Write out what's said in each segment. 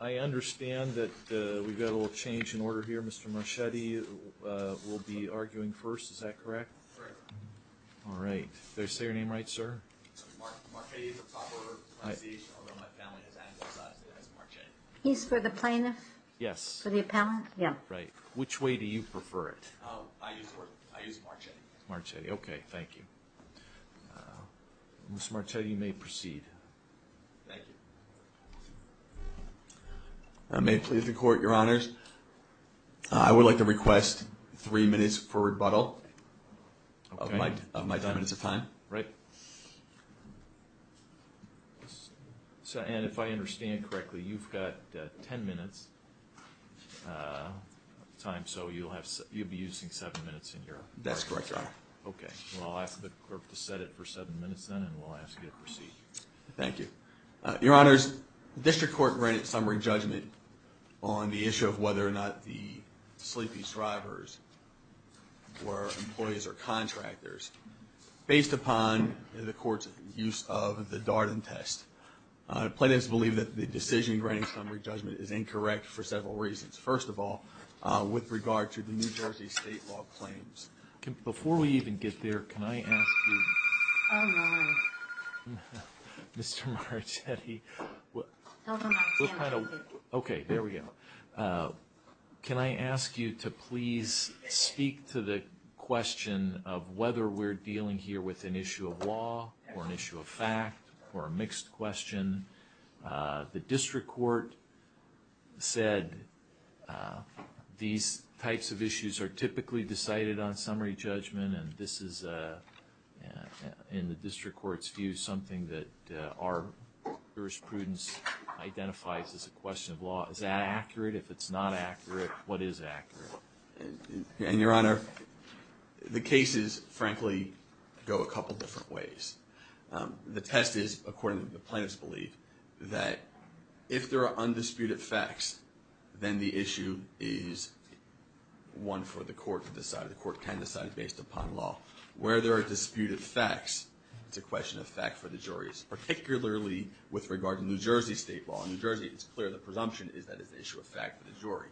I understand that we've got a little change in order here. Mr. Marchetti Will be arguing first. Is that correct? All right, they say your name, right, sir He's for the plaintiff yes for the appellant. Yeah, right, which way do you prefer it? Marchetti, okay. Thank you Miss Marchetti may proceed May please the court your honors. I would like to request three minutes for rebuttal Of my of my ten minutes of time, right? So and if I understand correctly you've got ten minutes Time so you'll have you'll be using seven minutes in here. That's correct, right? Okay, well, I'll ask the clerk to set it for seven minutes then and we'll ask you to proceed Thank you, your honors the district court granted summary judgment on the issue of whether or not the sleepy strivers Were employees or contractors Based upon the court's use of the Darden test Plaintiffs believe that the decision granting summary judgment is incorrect for several reasons. First of all with regard to the New Jersey state law claims Before we even get there. Can I ask you? Mr. Marchetti Okay, there we go Can I ask you to please? Speak to the question of whether we're dealing here with an issue of law or an issue of fact or a mixed question the district court said These types of issues are typically decided on summary judgment and this is a In the district courts view something that our Jurisprudence identifies as a question of law. Is that accurate if it's not accurate? What is accurate and your honor? The case is frankly go a couple different ways the test is according to the plaintiffs believe that if there are undisputed facts, then the issue is One for the court to decide the court can decide based upon law where there are disputed facts It's a question of fact for the jurors, particularly with regard to New Jersey state law in New Jersey It's clear. The presumption is that it's an issue of fact for the jury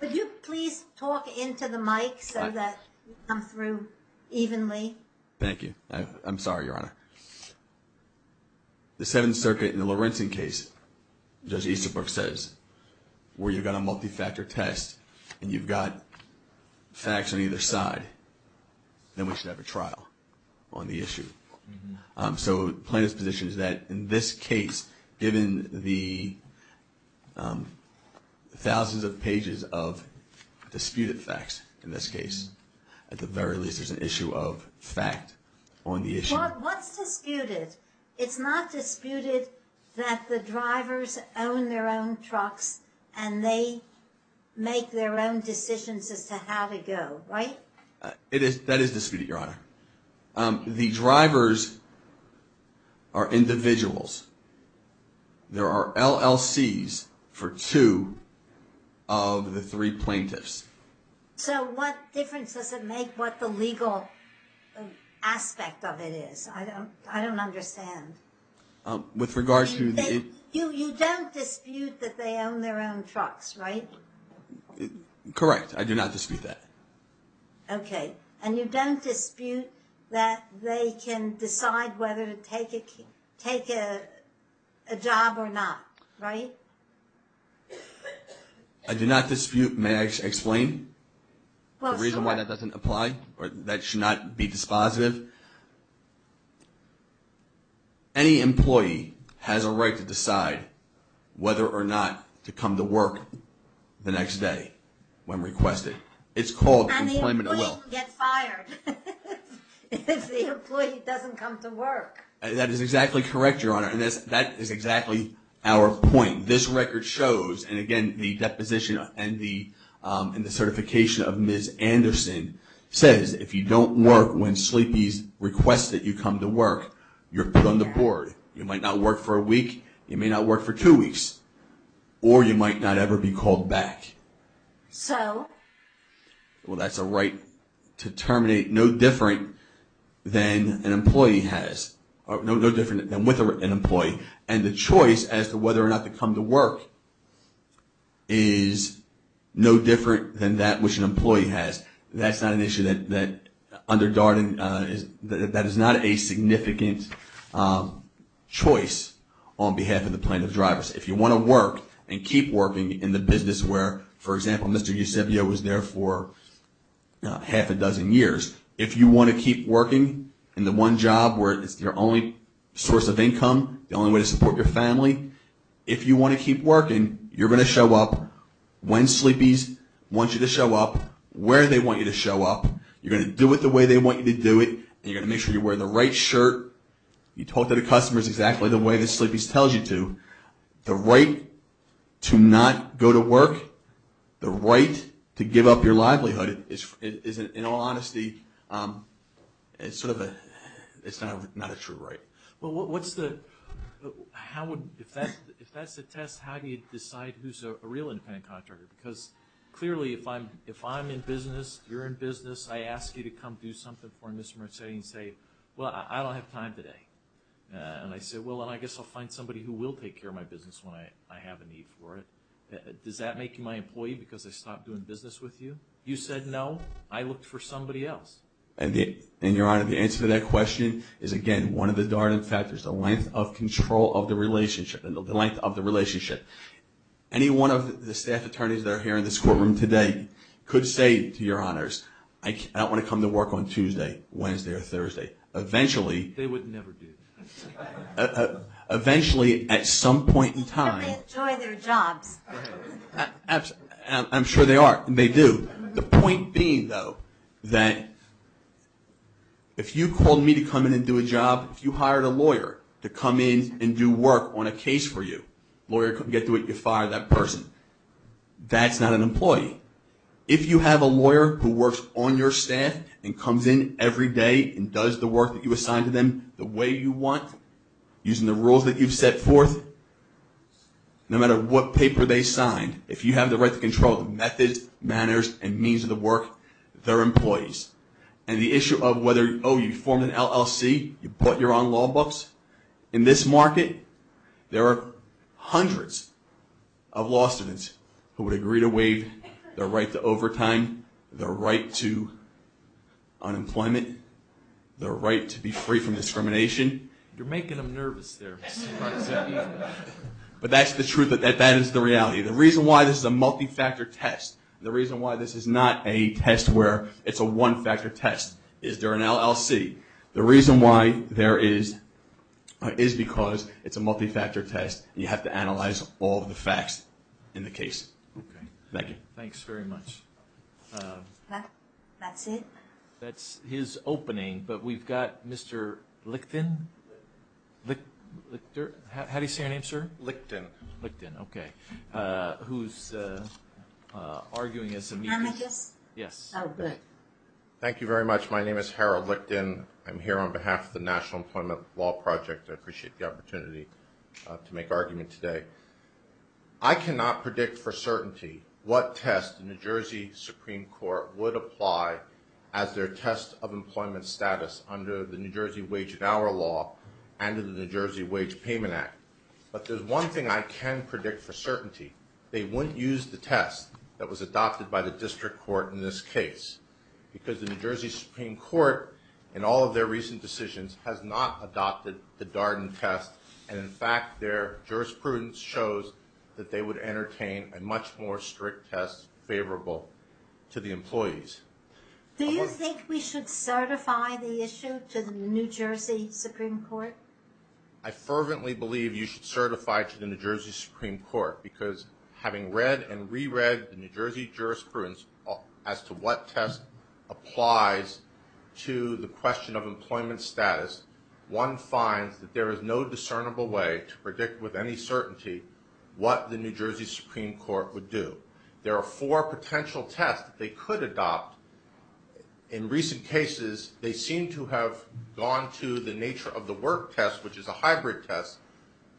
Would you please talk into the mic so that I'm through evenly? Thank you. I'm sorry, Your Honor The Seventh Circuit in the Lawrenson case Judge Easterbrook says Where you've got a multi-factor test and you've got facts on either side Then we should have a trial on the issue so plaintiff's position is that in this case given the Thousands of pages of Disputed facts in this case at the very least is an issue of fact on the issue What's disputed it's not disputed that the drivers own their own trucks and they Make their own decisions as to how to go right it is that is disputed your honor the drivers are Individuals there are LLC's for two of the three plaintiffs So what difference does it make what the legal? Aspect of it is I don't I don't understand With regards to the you you don't dispute that they own their own trucks, right? Correct. I do not dispute that Okay, and you don't dispute that they can decide whether to take it take a Job or not, right? I Apply or that should not be dispositive Any employee has a right to decide Whether or not to come to work The next day when requested it's called That is exactly correct your honor and this that is exactly our point this record shows and again the deposition and the Certification of ms. Anderson says if you don't work when sleepies requests that you come to work You're put on the board. You might not work for a week. You may not work for two weeks Or you might not ever be called back so Well, that's a right to terminate no different Than an employee has no different than with an employee and the choice as to whether or not to come to work is No different than that which an employee has that's not an issue that that under Darden is that is not a significant Choice on behalf of the plaintiff's drivers if you want to work and keep working in the business where for example, mr You said yeah was there for? Half a dozen years if you want to keep working in the one job where it's their only Source of income the only way to support your family if you want to keep working you're going to show up When sleepies wants you to show up where they want you to show up You're gonna do it the way they want you to do it You're gonna make sure you wear the right shirt You talk to the customers exactly the way the sleepies tells you to the right To not go to work the right to give up your livelihood. It isn't in all honesty It's sort of a it's not not a true, right? Well, what's the? How would if that if that's the test how do you decide who's a real independent contractor because Clearly if I'm if I'm in business, you're in business. I ask you to come do something for mr. Merced and say well, I don't have time today And I said well, and I guess I'll find somebody who will take care of my business when I I have a need for it Does that make you my employee because I stopped doing business with you? You said no I looked for somebody else and the and your honor the answer to that question is again one of the Darden factors the length Control of the relationship and the length of the relationship Anyone of the staff attorneys that are here in this courtroom today could say to your honors I don't want to come to work on Tuesday Wednesday or Thursday eventually Eventually at some point in time I'm sure they are and they do the point being though that If you called me to come in and do a job if you hired a lawyer to come in and do work on a case For you lawyer couldn't get to it. You fired that person That's not an employee If you have a lawyer who works on your staff and comes in every day and does the work that you assign to them The way you want Using the rules that you've set forth No matter what paper they signed if you have the right to control methods manners and means of the work their employees The issue of whether oh you formed an LLC you put your own law books in this market. There are hundreds of Law students who would agree to waive their right to overtime their right to Unemployment their right to be free from discrimination you're making them nervous there But that's the truth that that that is the reality the reason why this is a multi-factor test The reason why this is not a test where it's a one-factor test. Is there an LLC the reason why there is? Is because it's a multi-factor test and you have to analyze all the facts in the case Thank you. Thanks very much That's it that's his opening but we've got mr. Licton How do you say your name sir Licton Licton, okay, who's Arguing is amicus. Yes Thank you very much. My name is Harold Licton. I'm here on behalf of the National Employment Law Project. I appreciate the opportunity to make argument today I cannot predict for certainty what test in the Jersey Supreme Court would apply as Their test of employment status under the New Jersey Wage and Hour Law and in the New Jersey Wage Payment Act But there's one thing I can predict for certainty they wouldn't use the test that was adopted by the district court in this case Because the New Jersey Supreme Court in all of their recent decisions has not adopted the Darden test And in fact their jurisprudence shows that they would entertain a much more strict test favorable to the employees Do you think we should certify the issue to the New Jersey Supreme Court? I? Believe you should certify to the New Jersey Supreme Court because having read and reread the New Jersey jurisprudence As to what test applies? To the question of employment status one finds that there is no discernible way to predict with any certainty What the New Jersey Supreme Court would do there are four potential tests they could adopt In recent cases they seem to have gone to the nature of the work test Which is a hybrid test,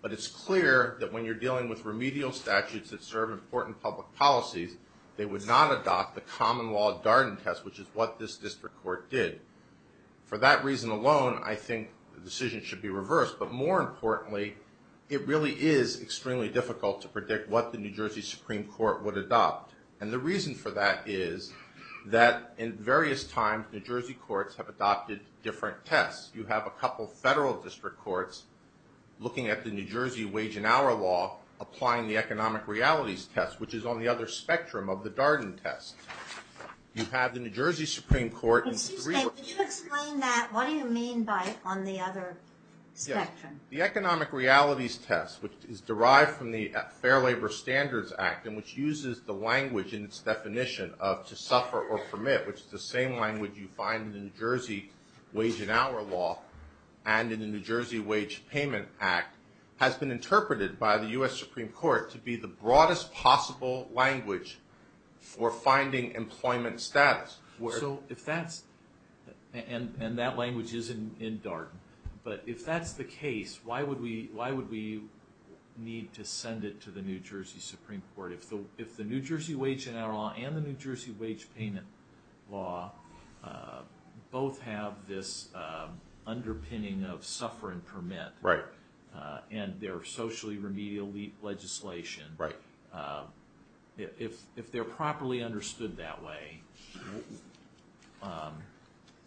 but it's clear that when you're dealing with remedial statutes that serve important public policies They would not adopt the common law Darden test, which is what this district court did For that reason alone. I think the decision should be reversed but more importantly It really is extremely difficult to predict what the New Jersey Supreme Court would adopt and the reason for that is That in various times New Jersey courts have adopted different tests you have a couple federal district courts Looking at the New Jersey wage and hour law applying the economic realities test, which is on the other spectrum of the Darden test You have the New Jersey Supreme Court What do you mean by on the other Spectrum the economic realities test which is derived from the Fair Labor Standards Act and which uses the language in its Suffer-or-permit, which is the same language you find in the New Jersey wage and hour law and in the New Jersey wage payment act Has been interpreted by the US Supreme Court to be the broadest possible language for finding employment status where so if that's And and that language is in in Darden, but if that's the case why would we why would we? Need to send it to the New Jersey Supreme Court if the if the New Jersey wage and hour law and the New Jersey wage payment law both have this Underpinning of suffer-and-permit right and they're socially remedial leap legislation, right? If if they're properly understood that way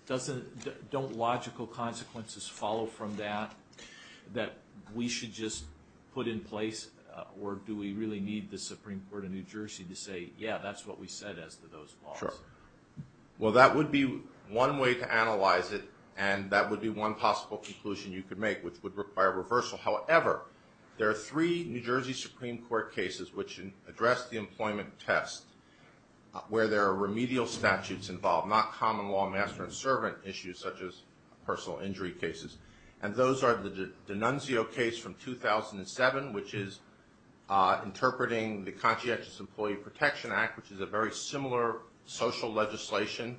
Doesn't don't logical consequences follow from that That we should just put in place or do we really need the Supreme Court of New Jersey to say yeah That's what we said as to those laws Well, that would be one way to analyze it and that would be one possible conclusion. You could make which would require reversal However, there are three New Jersey Supreme Court cases which address the employment test Where there are remedial statutes involved not common law master and servant issues such as personal injury cases and those are the Nunzio case from 2007, which is Interpreting the conscientious Employee Protection Act, which is a very similar Social legislation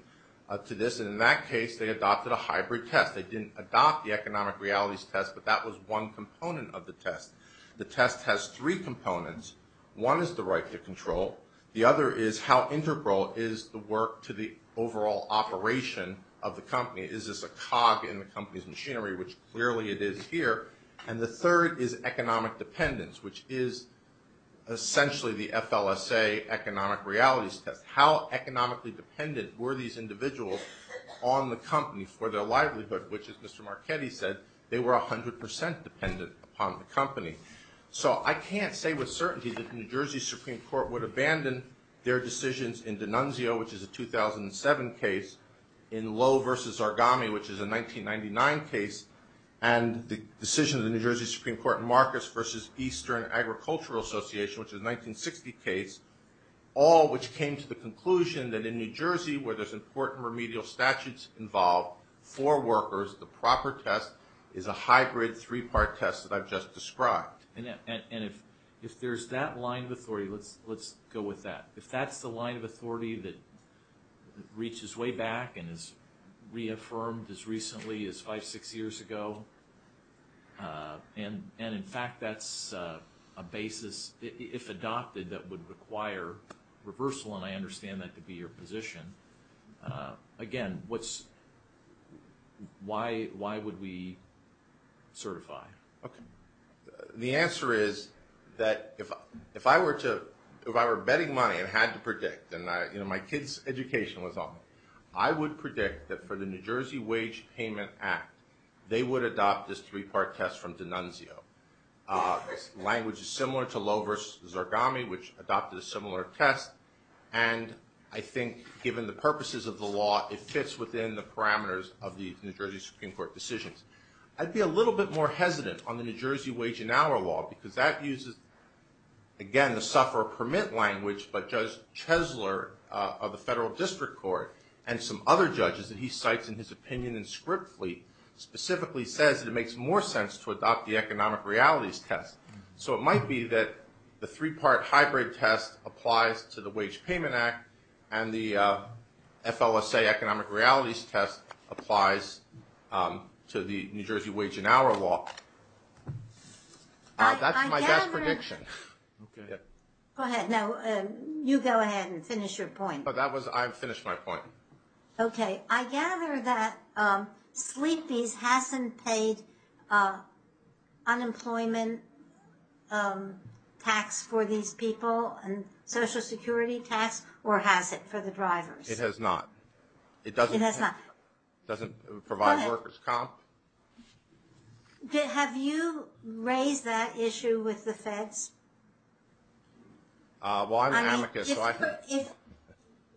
to this in that case. They adopted a hybrid test They didn't adopt the economic realities test But that was one component of the test the test has three components One is the right to control the other is how integral is the work to the overall? Operation of the company is this a cog in the company's machinery which clearly it is here and the third is economic dependence which is essentially the FLSA Economic realities test how economically dependent were these individuals on the company for their livelihood, which is mr Marchetti said they were a hundred percent dependent upon the company So I can't say with certainty that the New Jersey Supreme Court would abandon their decisions in Denunzio which is a 2007 case in low versus origami, which is a 1999 case and The decision of the New Jersey Supreme Court in Marcus versus Eastern Agricultural Association, which is 1960 case All which came to the conclusion that in New Jersey where there's important remedial statutes involved for workers The proper test is a hybrid three-part test that I've just described and if if there's that line of authority let's let's go with that if that's the line of authority that Reaches way back and is Reaffirmed as recently as five six years ago And and in fact, that's a basis if adopted that would require Reversal and I understand that to be your position again, what's Why why would we certify Okay, the answer is that if if I were to if I were betting money and had to predict and I you know My kids education was on I would predict that for the New Jersey Wage Payment Act They would adopt this three-part test from Denunzio language is similar to low versus origami, which adopted a similar test and I think given the purposes of the law it fits within the parameters of the New Jersey Supreme Court decisions I'd be a little bit more hesitant on the New Jersey Wage and Hour law because that uses again, the sufferer permit language But judge Chesler of the federal district court and some other judges that he cites in his opinion and script Lee Specifically says that it makes more sense to adopt the economic realities test so it might be that the three-part hybrid test applies to the Wage Payment Act and the FLSA economic realities test applies To the New Jersey Wage and Hour law That's my prediction Go ahead. No, you go ahead and finish your point, but that was I've finished my point. Okay, I gather that sleepies hasn't paid Unemployment Tax for these people and social security tax or has it for the drivers it has not It doesn't it has not doesn't provide workers comp Did have you raised that issue with the feds Why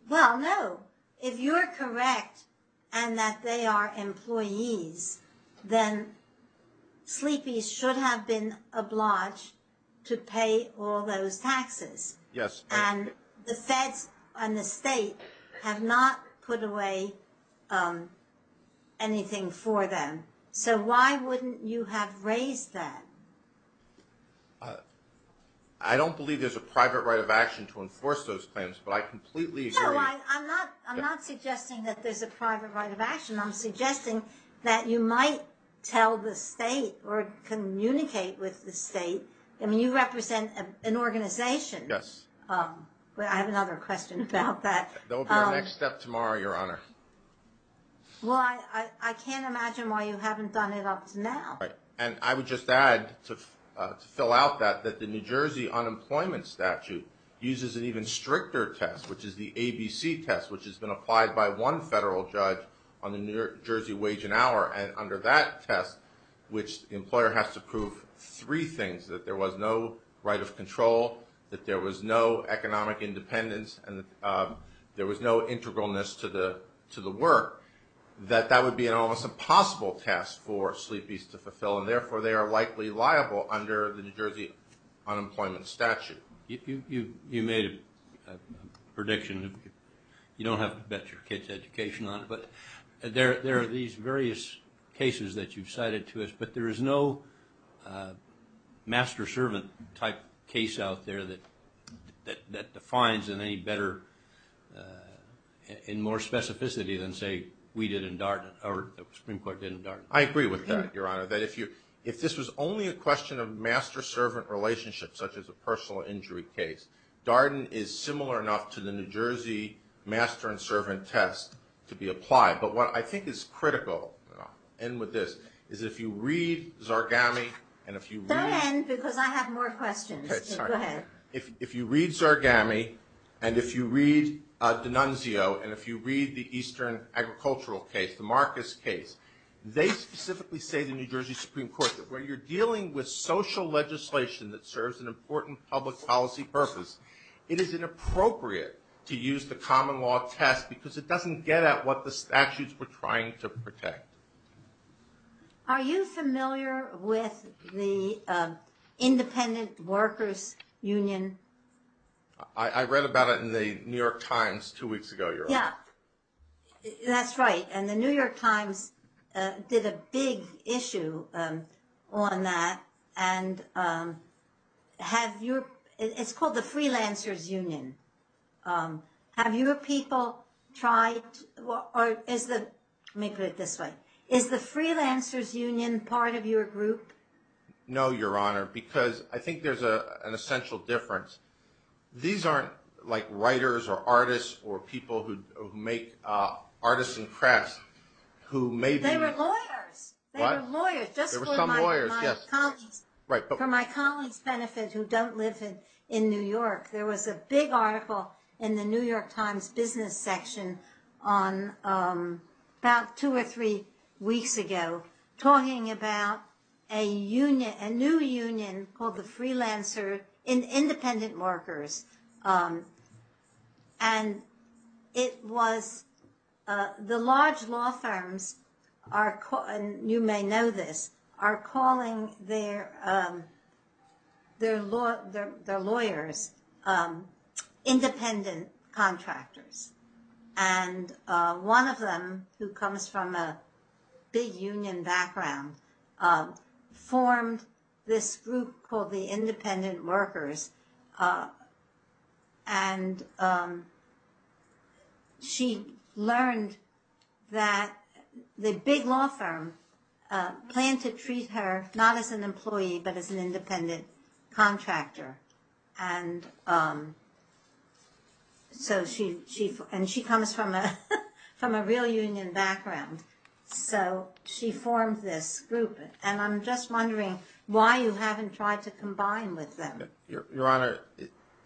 Well, no if you're correct and that they are employees then Sleepies should have been obliged to pay all those taxes Yes, and the feds and the state have not put away Anything for them, so why wouldn't you have raised that I Don't believe there's a private right of action to enforce those claims, but I completely I'm not suggesting that there's a private right of action. I'm suggesting that you might tell the state or An organization, yes Well, I have another question about that. There will be a next step tomorrow your honor Well, I I can't imagine why you haven't done it up to now And I would just add to fill out that that the New Jersey unemployment statute uses an even stricter test Which is the ABC test which has been applied by one federal judge on the New Jersey wage and hour and under that test Which the employer has to prove three things that there was no right of control that there was no economic independence and There was no integralness to the to the work That that would be an almost impossible test for sleepies to fulfill and therefore they are likely liable under the New Jersey unemployment statute you you you made a prediction You don't have to bet your kids education on it There there are these various cases that you've cited to us, but there is no Master-servant type case out there that that that defines in any better In more specificity than say we did in Darden or the Supreme Court didn't dark I agree with that your honor that if you if this was only a question of master-servant Relationships such as a personal injury case Darden is similar enough to the New Jersey Master-and-servant test to be applied, but what I think is critical and with this is if you read Zarghami and if you If you read Zarghami and if you read D'Annunzio and if you read the Eastern agricultural case the Marcus case They specifically say the New Jersey Supreme Court that when you're dealing with social Legislation that serves an important public policy purpose It is inappropriate to use the common law test because it doesn't get at what the statutes were trying to protect Are you familiar with the? Independent Workers Union I Read about it in the New York Times two weeks ago. Yeah That's right, and the New York Times did a big issue on that and Have your it's called the Freelancers Union Have your people tried? What is the make it this way is the Freelancers Union part of your group? No, your honor because I think there's a an essential difference These aren't like writers or artists or people who make? artists and crafts who maybe Lawyers Right for my colleagues benefit who don't live in in New York There was a big article in the New York Times business section on About two or three weeks ago talking about a Union a new union called the Freelancers in independent workers and It was the large law firms You may know this are calling their Their law their lawyers Independent contractors and One of them who comes from a big union background Formed this group called the independent workers and She learned that The big law firm Planned to treat her not as an employee, but as an independent contractor and So she chief and she comes from a from a real union background So she formed this group and I'm just wondering why you haven't tried to combine with them your honor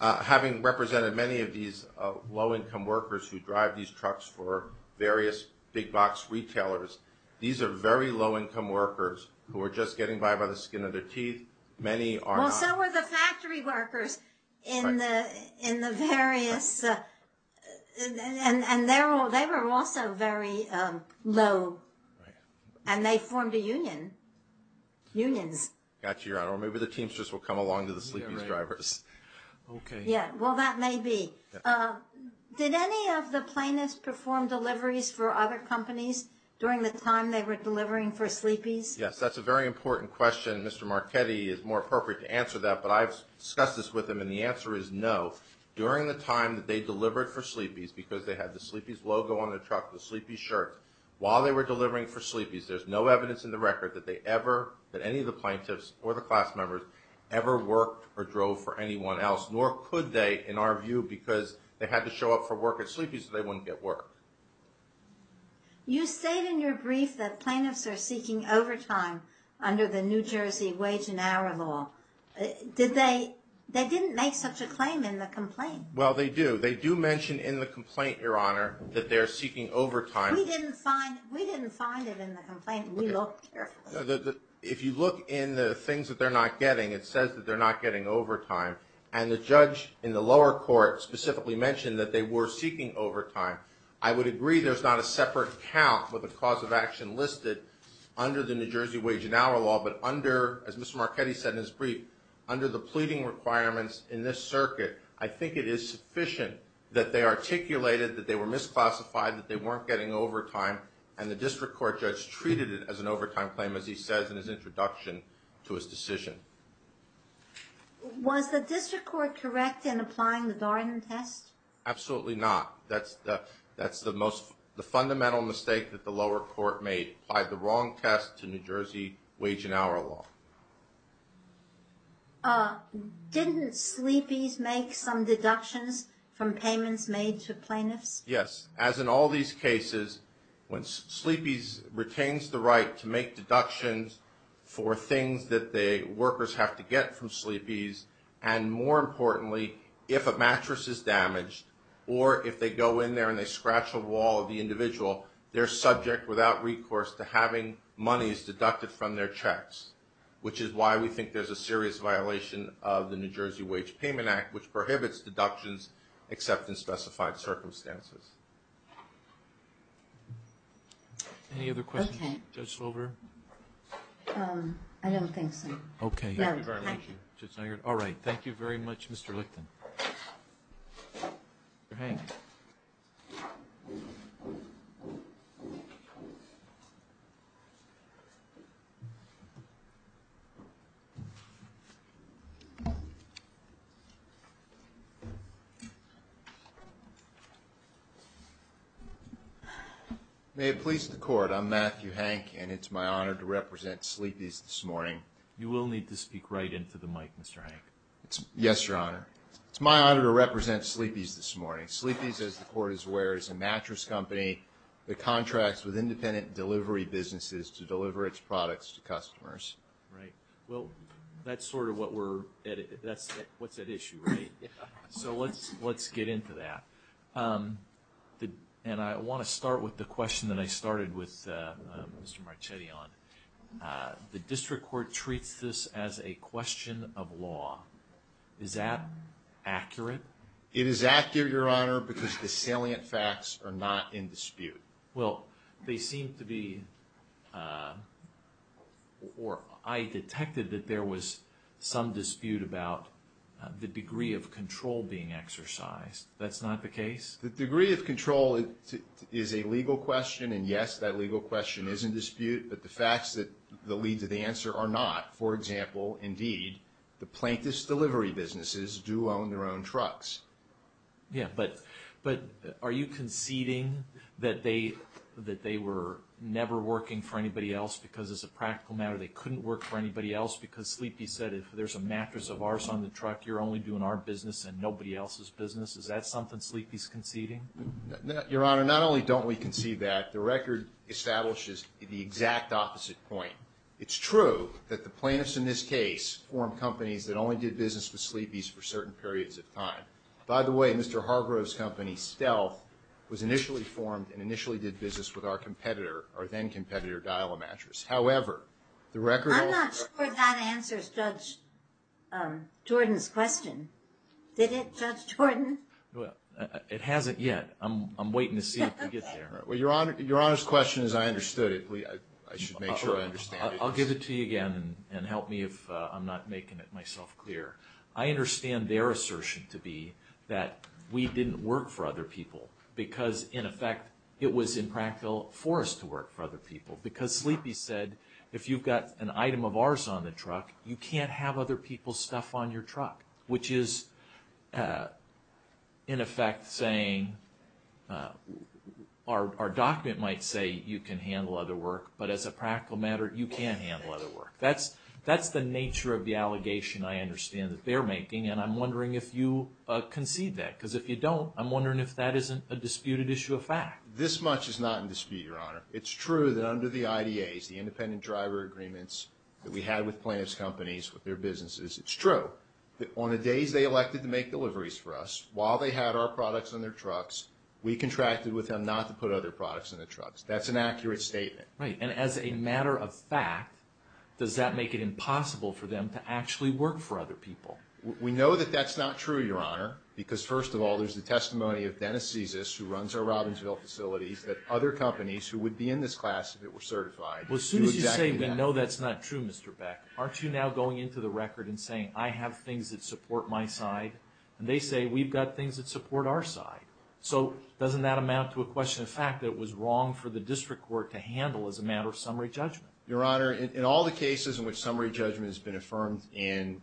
Having represented many of these low-income workers who drive these trucks for various big-box retailers These are very low-income workers who are just getting by by the skin of their teeth Many are also were the factory workers in the in the various And and they're all they were also very low and they formed a union Unions got your honor. Maybe the teamsters will come along to the sleepy drivers Okay. Yeah. Well that may be Did any of the plaintiffs perform deliveries for other companies during the time they were delivering for sleepies? Yes, that's a very important question. Mr. Marchetti is more appropriate to answer that but I've discussed this with them And the answer is no During the time that they delivered for sleepies because they had the sleepies logo on the truck the sleepy shirt While they were delivering for sleepies There's no evidence in the record that they ever that any of the plaintiffs or the class members Ever worked or drove for anyone else nor could they in our view because they had to show up for work at sleepy So they wouldn't get work You stayed in your brief that plaintiffs are seeking overtime under the New Jersey wage and hour law Did they they didn't make such a claim in the complaint? Well, they do they do mention in the complaint your honor that they're seeking overtime We didn't find it in the complaint we look If you look in the things that they're not getting it says that they're not getting overtime and the judge in the lower court Specifically mentioned that they were seeking overtime. I would agree There's not a separate account with a cause of action listed under the New Jersey wage and hour law But under as mr. Marchetti said in his brief under the pleading requirements in this circuit I think it is sufficient that they articulated that they were misclassified that they weren't getting overtime and the district court judge Treated it as an overtime claim as he says in his introduction to his decision Was the district court correct in applying the Darden test? Absolutely, not. That's that's the most the fundamental mistake that the lower court made by the wrong test to New Jersey wage and hour law Uh Didn't sleepies make some deductions from payments made to plaintiffs? Yes As in all these cases when sleepies retains the right to make deductions for things that they workers have to get from sleepies and More importantly if a mattress is damaged or if they go in there and they scratch a wall of the individual They're subject without recourse to having monies deducted from their checks Which is why we think there's a serious violation of the New Jersey Wage Payment Act, which prohibits deductions except in specified circumstances Any other questions over Okay, all right, thank you very much mr. Licton You May it please the court. I'm Matthew Hank and it's my honor to represent sleepies this morning You will need to speak right into the mic. Mr. Hank. It's yes, your honor It's my honor to represent sleepies this morning sleepies as the court is where is a mattress company The contracts with independent delivery businesses to deliver its products to customers, right? Well, that's sort of what we're at it. That's what's at issue, right? So let's let's get into that The and I want to start with the question that I started with Mr. Marchetti on The district court treats this as a question of law Is that accurate? It is accurate your honor because the salient facts are not in dispute well they seem to be Or I detected that there was some dispute about The degree of control being exercised. That's not the case The degree of control is a legal question And yes, that legal question is in dispute But the facts that the lead to the answer are not for example Indeed the plaintiffs delivery businesses do own their own trucks Yeah But but are you conceding that they that they were never working for anybody else because as a practical matter They couldn't work for anybody else because sleepy said if there's a mattress of ours on the truck You're only doing our business and nobody else's business. Is that something sleepies conceding? Your honor not only don't we can see that the record establishes the exact opposite point It's true that the plaintiffs in this case form companies that only did business with sleepies for certain periods of time by the way Mr. Hargrove's company stealth was initially formed and initially did business with our competitor or then competitor dial a mattress however, the record Jordan's question Did it judge Jordan? Well, it hasn't yet. I'm waiting to see I'll give it to you again and help me if I'm not making it myself clear I understand their assertion to be that we didn't work for other people because in effect it was impractical for us to work for Other people because sleepy said if you've got an item of ours on the truck, you can't have other people's stuff on your truck which is In effect saying Our Document might say you can handle other work. But as a practical matter, you can't handle other work That's that's the nature of the allegation I understand that they're making and I'm wondering if you Concede that because if you don't I'm wondering if that isn't a disputed issue of fact this much is not in dispute your honor It's true that under the IDA's the independent driver agreements that we had with plaintiffs companies with their businesses It's true that on the days they elected to make deliveries for us while they had our products on their trucks We contracted with them not to put other products in the trucks. That's an accurate statement, right? And as a matter of fact, does that make it impossible for them to actually work for other people? We know that that's not true your honor Because first of all, there's the testimony of Dennis Jesus who runs our Robinsville facilities that other companies who would be in this class If it were certified, well soon as you say, you know, that's not true. Mr Beck aren't you now going into the record and saying I have things that support my side and they say we've got things that support Our side so doesn't that amount to a question of fact that it was wrong for the district court to handle as a matter of Summary judgment your honor in all the cases in which summary judgment has been affirmed in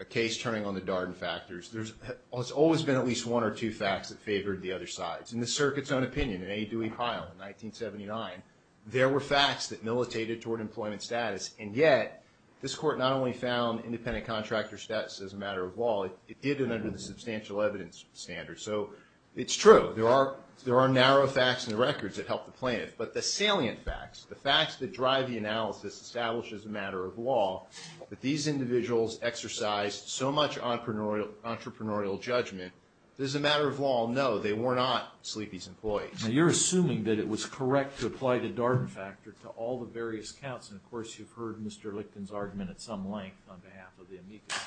a case turning on the Darden factors There's it's always been at least one or two facts that favored the other sides in the circuit's own opinion in a Dewey pile 1979 there were facts that militated toward employment status and yet this court not only found Independent contractor status as a matter of law it did it under the substantial evidence standard So it's true There are there are narrow facts in the records that help the plaintiff but the salient facts the facts that drive the analysis Establishes a matter of law that these individuals exercised so much entrepreneurial Entrepreneurial judgment. There's a matter of law. No, they were not sleepies employees Now you're assuming that it was correct to apply the Darden factor to all the various counts. And of course, you've heard mr Licton's argument at some length on behalf of the amicus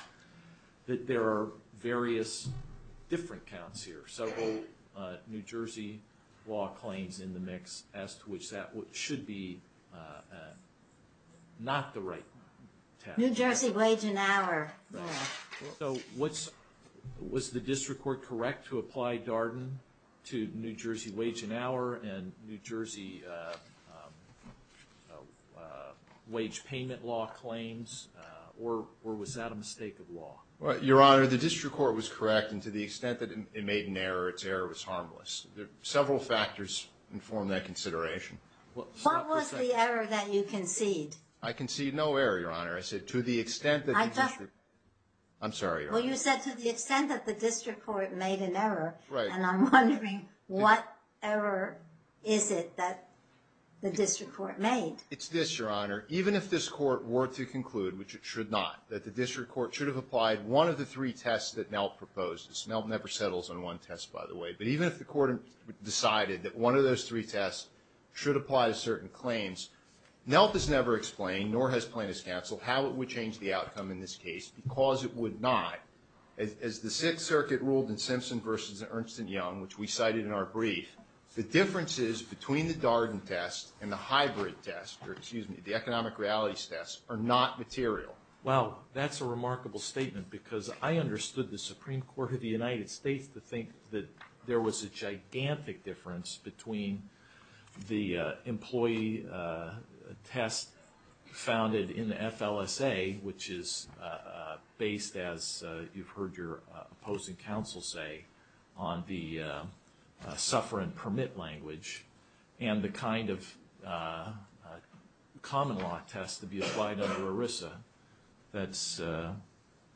That there are various Different counts here several New Jersey law claims in the mix as to which that what should be Not the right New Jersey wage an hour so what's Was the district court correct to apply Darden to New Jersey wage an hour and New Jersey A Wage payment law claims or or was that a mistake of law? All right, your honor. The district court was correct and to the extent that it made an error. It's error was harmless There are several factors inform that consideration Well, what was the error that you concede I can see no error your honor. I said to the extent that I'm I'm sorry. Well, you said to the extent that the district court made an error, right? What ever is it that The district court made it's this your honor Even if this court were to conclude which it should not that the district court should have applied one of the three tests that now Proposed it's not never settles on one test by the way But even if the court decided that one of those three tests should apply to certain claims Nelp has never explained nor has plaintiffs counsel how it would change the outcome in this case because it would not As the Sixth Circuit ruled in Simpson versus Ernst and Young which we cited in our brief The differences between the Darden test and the hybrid test or excuse me The economic realities tests are not material well that's a remarkable statement because I understood the Supreme Court of the United States to think that there was a gigantic difference between the employee test founded in the FLSA, which is Based as you've heard your opposing counsel say on the Suffer and permit language and the kind of Common law test to be applied under ERISA. That's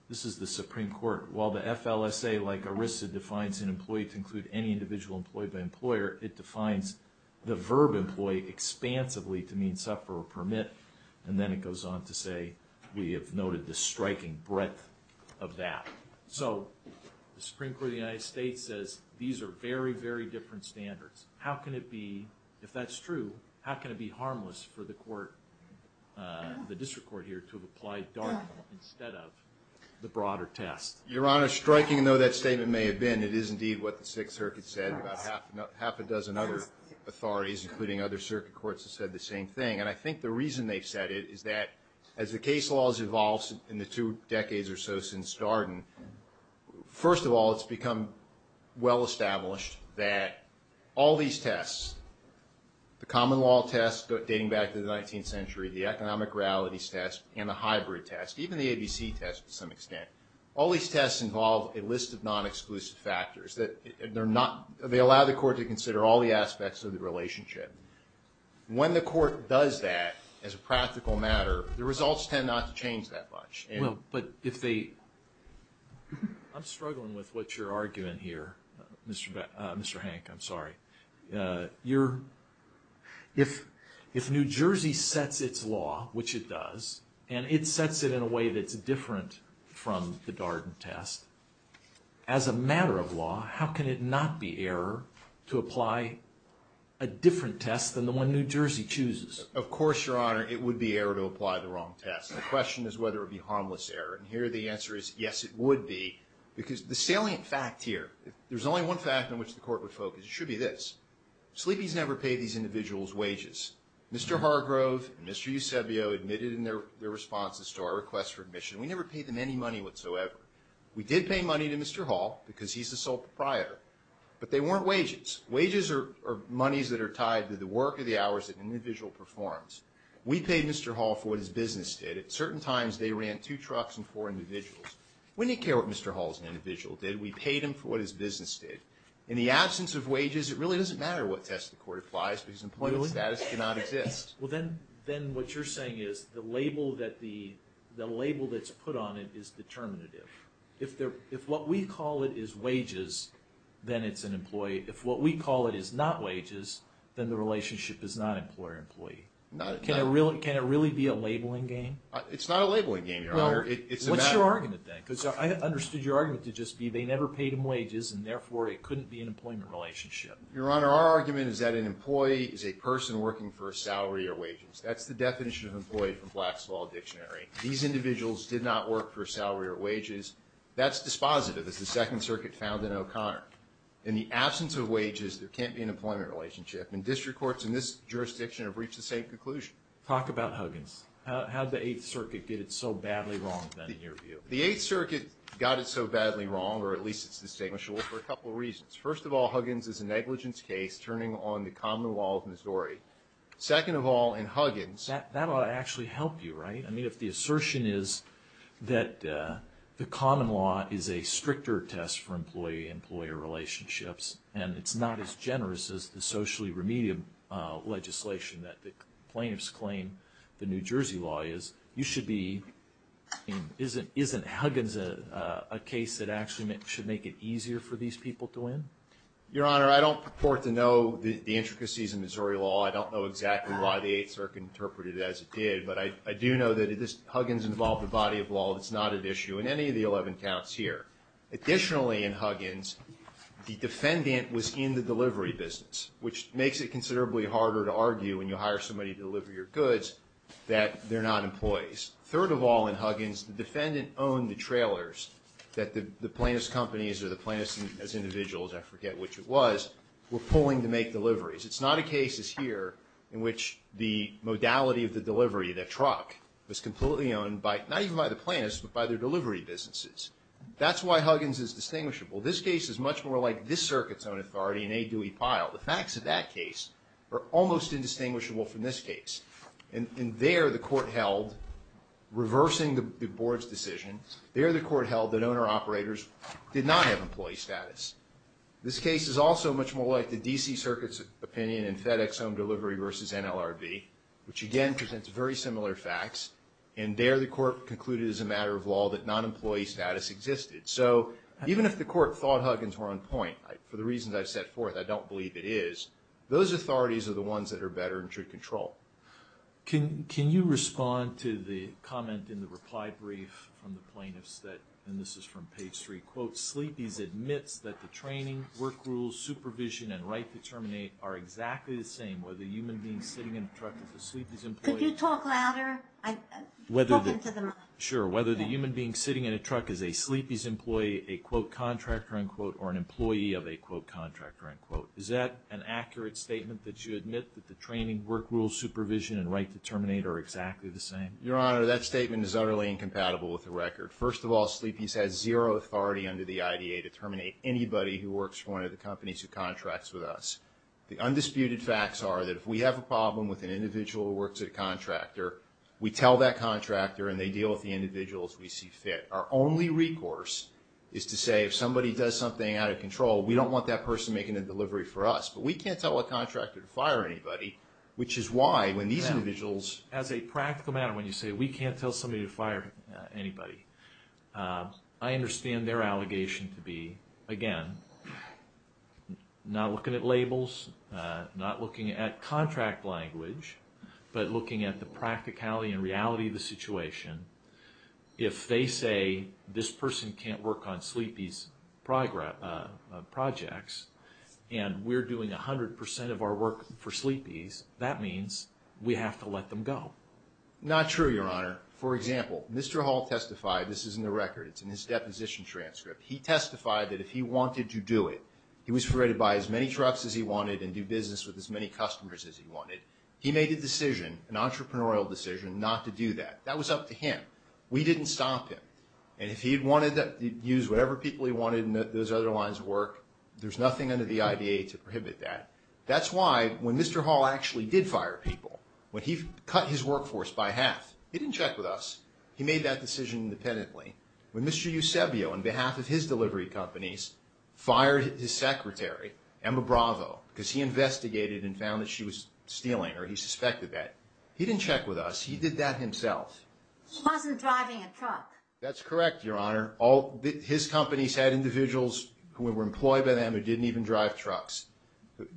This is the Supreme Court while the FLSA like ERISA defines an employee to include any individual employed by employer It defines the verb employee Expansively to mean suffer or permit and then it goes on to say we have noted the striking breadth of that. So The Supreme Court of the United States says these are very very different standards. How can it be if that's true? How can it be harmless for the court? the district court here to apply The broader test your honor striking though that statement may have been it is indeed what the Sixth Circuit said about half a dozen other Authorities including other circuit courts have said the same thing And I think the reason they've said it is that as the case laws evolves in the two decades or so since Darden First of all, it's become well established that all these tests The common law tests dating back to the 19th century the economic realities test and the hybrid test Even the ABC test to some extent all these tests involve a list of non-exclusive factors that they're not They allow the court to consider all the aspects of the relationship When the court does that as a practical matter the results tend not to change that much. Well, but if they I'm struggling with what you're arguing here. Mr. Beck. Mr. Hank. I'm sorry you're if if New Jersey sets its law which it does and it sets it in a way that's different from the Darden test as a matter of law, how can it not be error to apply a Different test than the one New Jersey chooses, of course, your honor It would be error to apply the wrong test The question is whether it be harmless error and here the answer is yes It would be because the salient fact here. There's only one fact in which the court would focus should be this Sleepy's never paid these individuals wages. Mr. Hargrove. Mr. Eusebio admitted in their their responses to our requests for admission We never paid them any money whatsoever. We did pay money to mr. Hall because he's the sole proprietor But they weren't wages wages or monies that are tied to the work of the hours that individual performs We paid mr. Hall for his business did at certain times. They ran two trucks and four individuals. We need care What mr. Hall's an individual did we paid him for what his business did in the absence of wages? It really doesn't matter what test the court applies because employment status cannot exist Then what you're saying is the label that the the label that's put on it is Determinative if there if what we call it is wages Then it's an employee if what we call it is not wages Then the relationship is not employer-employee not it can I really can it really be a labeling game? It's not a labeling game No, it's your argument thing So I understood your argument to just be they never paid him wages and therefore it couldn't be an employment relationship Your honor our argument is that an employee is a person working for a salary or wages That's the definition of employee from Black's Law Dictionary. These individuals did not work for salary or wages That's dispositive as the Second Circuit found in O'Connor in the absence of wages There can't be an employment relationship and district courts in this jurisdiction have reached the same conclusion talk about Huggins How the Eighth Circuit did it so badly wrong then in your view the Eighth Circuit got it Badly wrong or at least it's distinguishable for a couple of reasons first of all Huggins is a negligence case turning on the common law of Missouri Second of all in Huggins that that ought to actually help you right. I mean if the assertion is that The common law is a stricter test for employee-employee relationships, and it's not as generous as the socially remedial legislation that the plaintiffs claim the New Jersey law is you should be Isn't isn't Huggins a Case that actually meant should make it easier for these people to win your honor I don't purport to know the intricacies in Missouri law I don't know exactly why the Eighth Circuit interpreted as it did But I do know that it is Huggins involved the body of law that's not at issue in any of the 11 counts here additionally in Huggins The defendant was in the delivery business which makes it considerably harder to argue when you hire somebody to deliver your goods That they're not employees third of all in Huggins the defendant owned the trailers That the plaintiffs companies are the plaintiffs as individuals. I forget which it was we're pulling to make deliveries It's not a case is here in which the modality of the delivery that truck was completely owned by not even by the plaintiffs But by their delivery businesses, that's why Huggins is distinguishable This case is much more like this circuit's own authority in a Dewey pile the facts of that case Are almost indistinguishable from this case and in there the court held Reversing the board's decision there the court held that owner-operators did not have employee status This case is also much more like the DC circuits opinion and FedEx home delivery versus NLRB Which again presents very similar facts and there the court concluded as a matter of law that non-employee status existed So even if the court thought Huggins were on point for the reasons I've set forth I don't believe it is those authorities are the ones that are better and should control Can can you respond to the comment in the reply brief from the plaintiffs that and this is from page three quote? Sleepy's admits that the training work rules supervision and right to terminate are exactly the same whether the human being sitting in a truck Could you talk louder? whether Sure, whether the human being sitting in a truck is a sleepies employee a quote contractor unquote or an employee of a quote contractor Is that an accurate statement that you admit that the training work rules supervision and right to terminate are exactly the same your honor? That statement is utterly incompatible with the record First of all sleepies has zero authority under the IDA to terminate anybody who works for one of the companies who contracts with us The undisputed facts are that if we have a problem with an individual who works at a contractor We tell that contractor and they deal with the individuals we see fit Our only recourse is to say if somebody does something out of control We don't want that person making a delivery for us, but we can't tell a contractor to fire anybody Which is why when these individuals as a practical matter when you say we can't tell somebody to fire anybody I understand their allegation to be again Now looking at labels Not looking at contract language, but looking at the practicality and reality of the situation If they say this person can't work on sleepies Progress Projects and we're doing a hundred percent of our work for sleepies. That means we have to let them go Not true your honor for example, mr. Hall testified. This is in the record. It's in his deposition transcript He testified that if he wanted to do it He was afraid to buy as many trucks as he wanted and do business with as many customers as he wanted He made a decision an entrepreneurial decision not to do that. That was up to him We didn't stop him and if he had wanted to use whatever people he wanted in those other lines of work There's nothing under the IDA to prohibit that that's why when mr Hall actually did fire people when he cut his workforce by half. He didn't check with us. He made that decision independently when mr Eusebio on behalf of his delivery companies Fired his secretary Emma Bravo because he investigated and found that she was stealing or he suspected that he didn't check with us He did that himself That's correct, your honor all his companies had individuals who were employed by them who didn't even drive trucks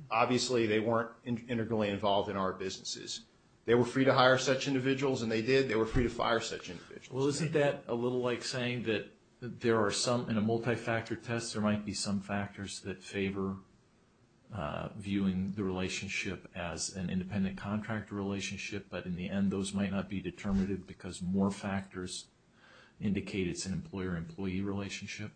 Obviously, they weren't integrally involved in our businesses. They were free to hire such individuals and they did they were free to fire such individuals Well, isn't that a little like saying that there are some in a multi-factor test. There might be some factors that favor Viewing the relationship as an independent contractor relationship But in the end those might not be determinative because more factors Indicate it's an employer-employee relationship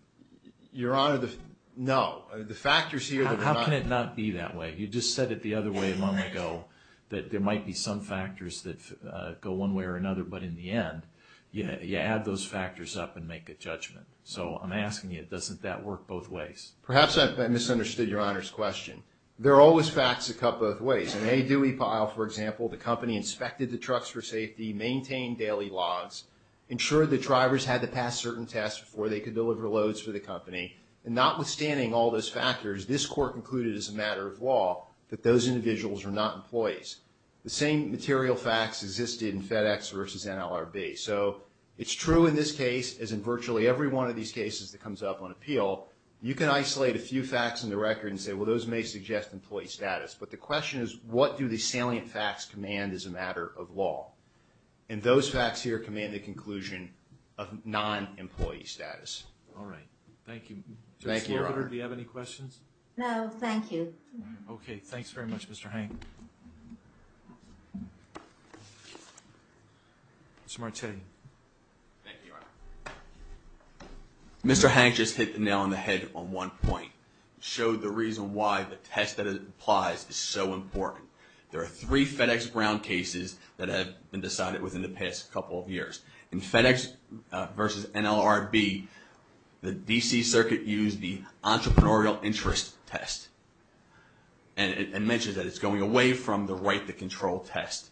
Your honor the know the factors here. How can it not be that way? You just said it the other way a month ago that there might be some factors that go one way or another But in the end, you know, you add those factors up and make a judgment So I'm asking you it doesn't that work both ways perhaps I misunderstood your honors question There are always facts that cut both ways and they do we pile for example The company inspected the trucks for safety maintained daily logs Ensured the drivers had to pass certain tests before they could deliver loads for the company and notwithstanding all those factors This court concluded as a matter of law that those individuals are not employees The same material facts existed in FedEx versus NLRB So it's true in this case as in virtually every one of these cases that comes up on appeal You can isolate a few facts in the record and say well those may suggest employee status but the question is what do the salient facts command as a matter of law and Those facts here command the conclusion of non-employee status. All right. Thank you No, thank you. Okay. Thanks very much. Mr. Hank Smart city Mr. Hank just hit the nail on the head on one point showed the reason why the test that it applies is so important There are three FedEx Brown cases that have been decided within the past couple of years in FedEx versus NLRB the DC Circuit used the entrepreneurial interest test and It mentions that it's going away from the right to control test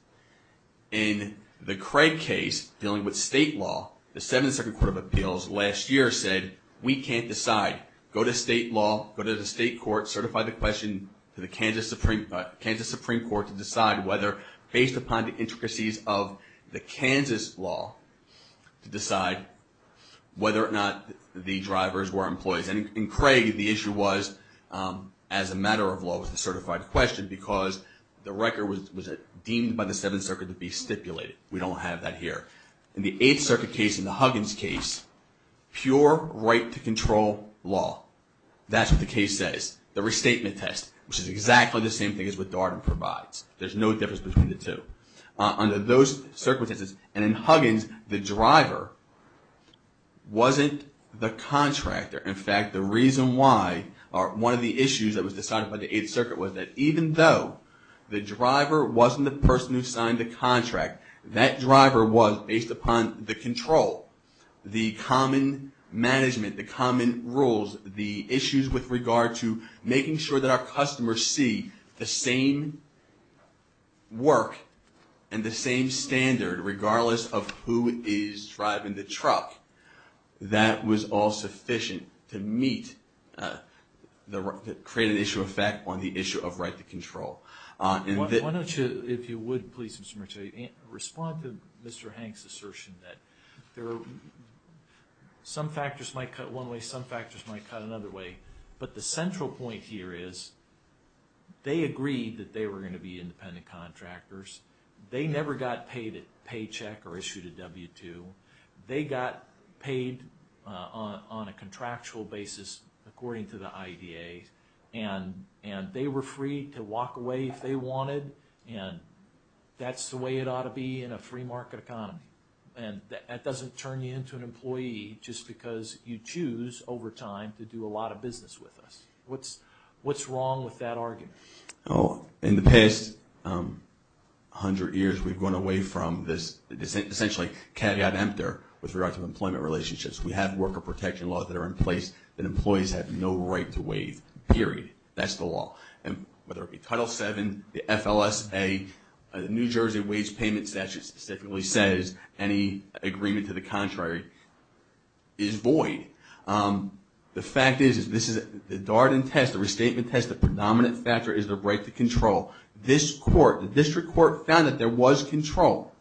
in The Craig case dealing with state law the 7th Circuit Court of Appeals last year said we can't decide Go to state law go to the state court certify the question to the Kansas Supreme Kansas Supreme Court to decide whether based upon the intricacies of the Kansas law to decide whether or not the drivers were employees and in Craig the issue was As a matter of law was the certified question because the record was deemed by the 7th Circuit to be stipulated We don't have that here in the 8th Circuit case in the Huggins case pure right to control law That's what the case says the restatement test which is exactly the same thing as with Darden provides There's no difference between the two under those circumstances and in Huggins the driver Wasn't the contractor in fact the reason why are one of the issues that was decided by the 8th Circuit was that even though The driver wasn't the person who signed the contract that driver was based upon the control the common Management the common rules the issues with regard to making sure that our customers see the same Work and the same standard regardless of who is driving the truck That was all sufficient to meet The create an issue effect on the issue of right to control And why don't you if you would please Mr. Mitchell you can't respond to mr. Hanks assertion that there are Some factors might cut one way some factors might cut another way, but the central point here is They agreed that they were going to be independent contractors They never got paid a paycheck or issued a w-2 they got paid on a contractual basis according to the IDA and and they were free to walk away if they wanted and That's the way it ought to be in a free market economy And that doesn't turn you into an employee just because you choose over time to do a lot of business with us What's what's wrong with that argument? Oh in the past? Hundred years we've gone away from this Essentially caveat emptor with regard to employment relationships We have worker protection laws that are in place that employees have no right to waive period That's the law and whether it be title 7 the FLSA New Jersey Wage Payment Statute specifically says any agreement to the contrary is void The fact is is this is the Darden test the restatement test the predominant factor is the right to control This court the district court found that there was control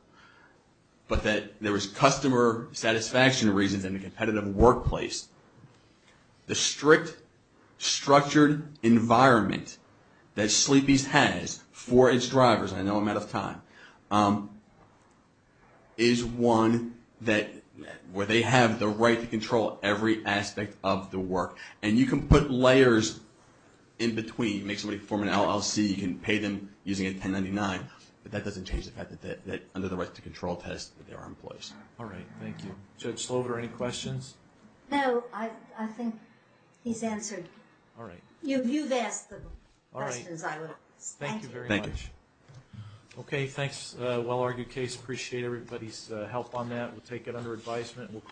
But that there was customer satisfaction reasons in the competitive workplace the strict Structured environment that sleepies has for its drivers. I know I'm out of time is One that where they have the right to control every aspect of the work, and you can put layers in Between you make somebody form an LLC you can pay them using a 1099 But that doesn't change the fact that that under the right to control test there are employees all right Thank you judge slover any questions. No. I think he's answered all right Thank you very much Okay, thanks, well argued case appreciate everybody's help on that. We'll take it under advisement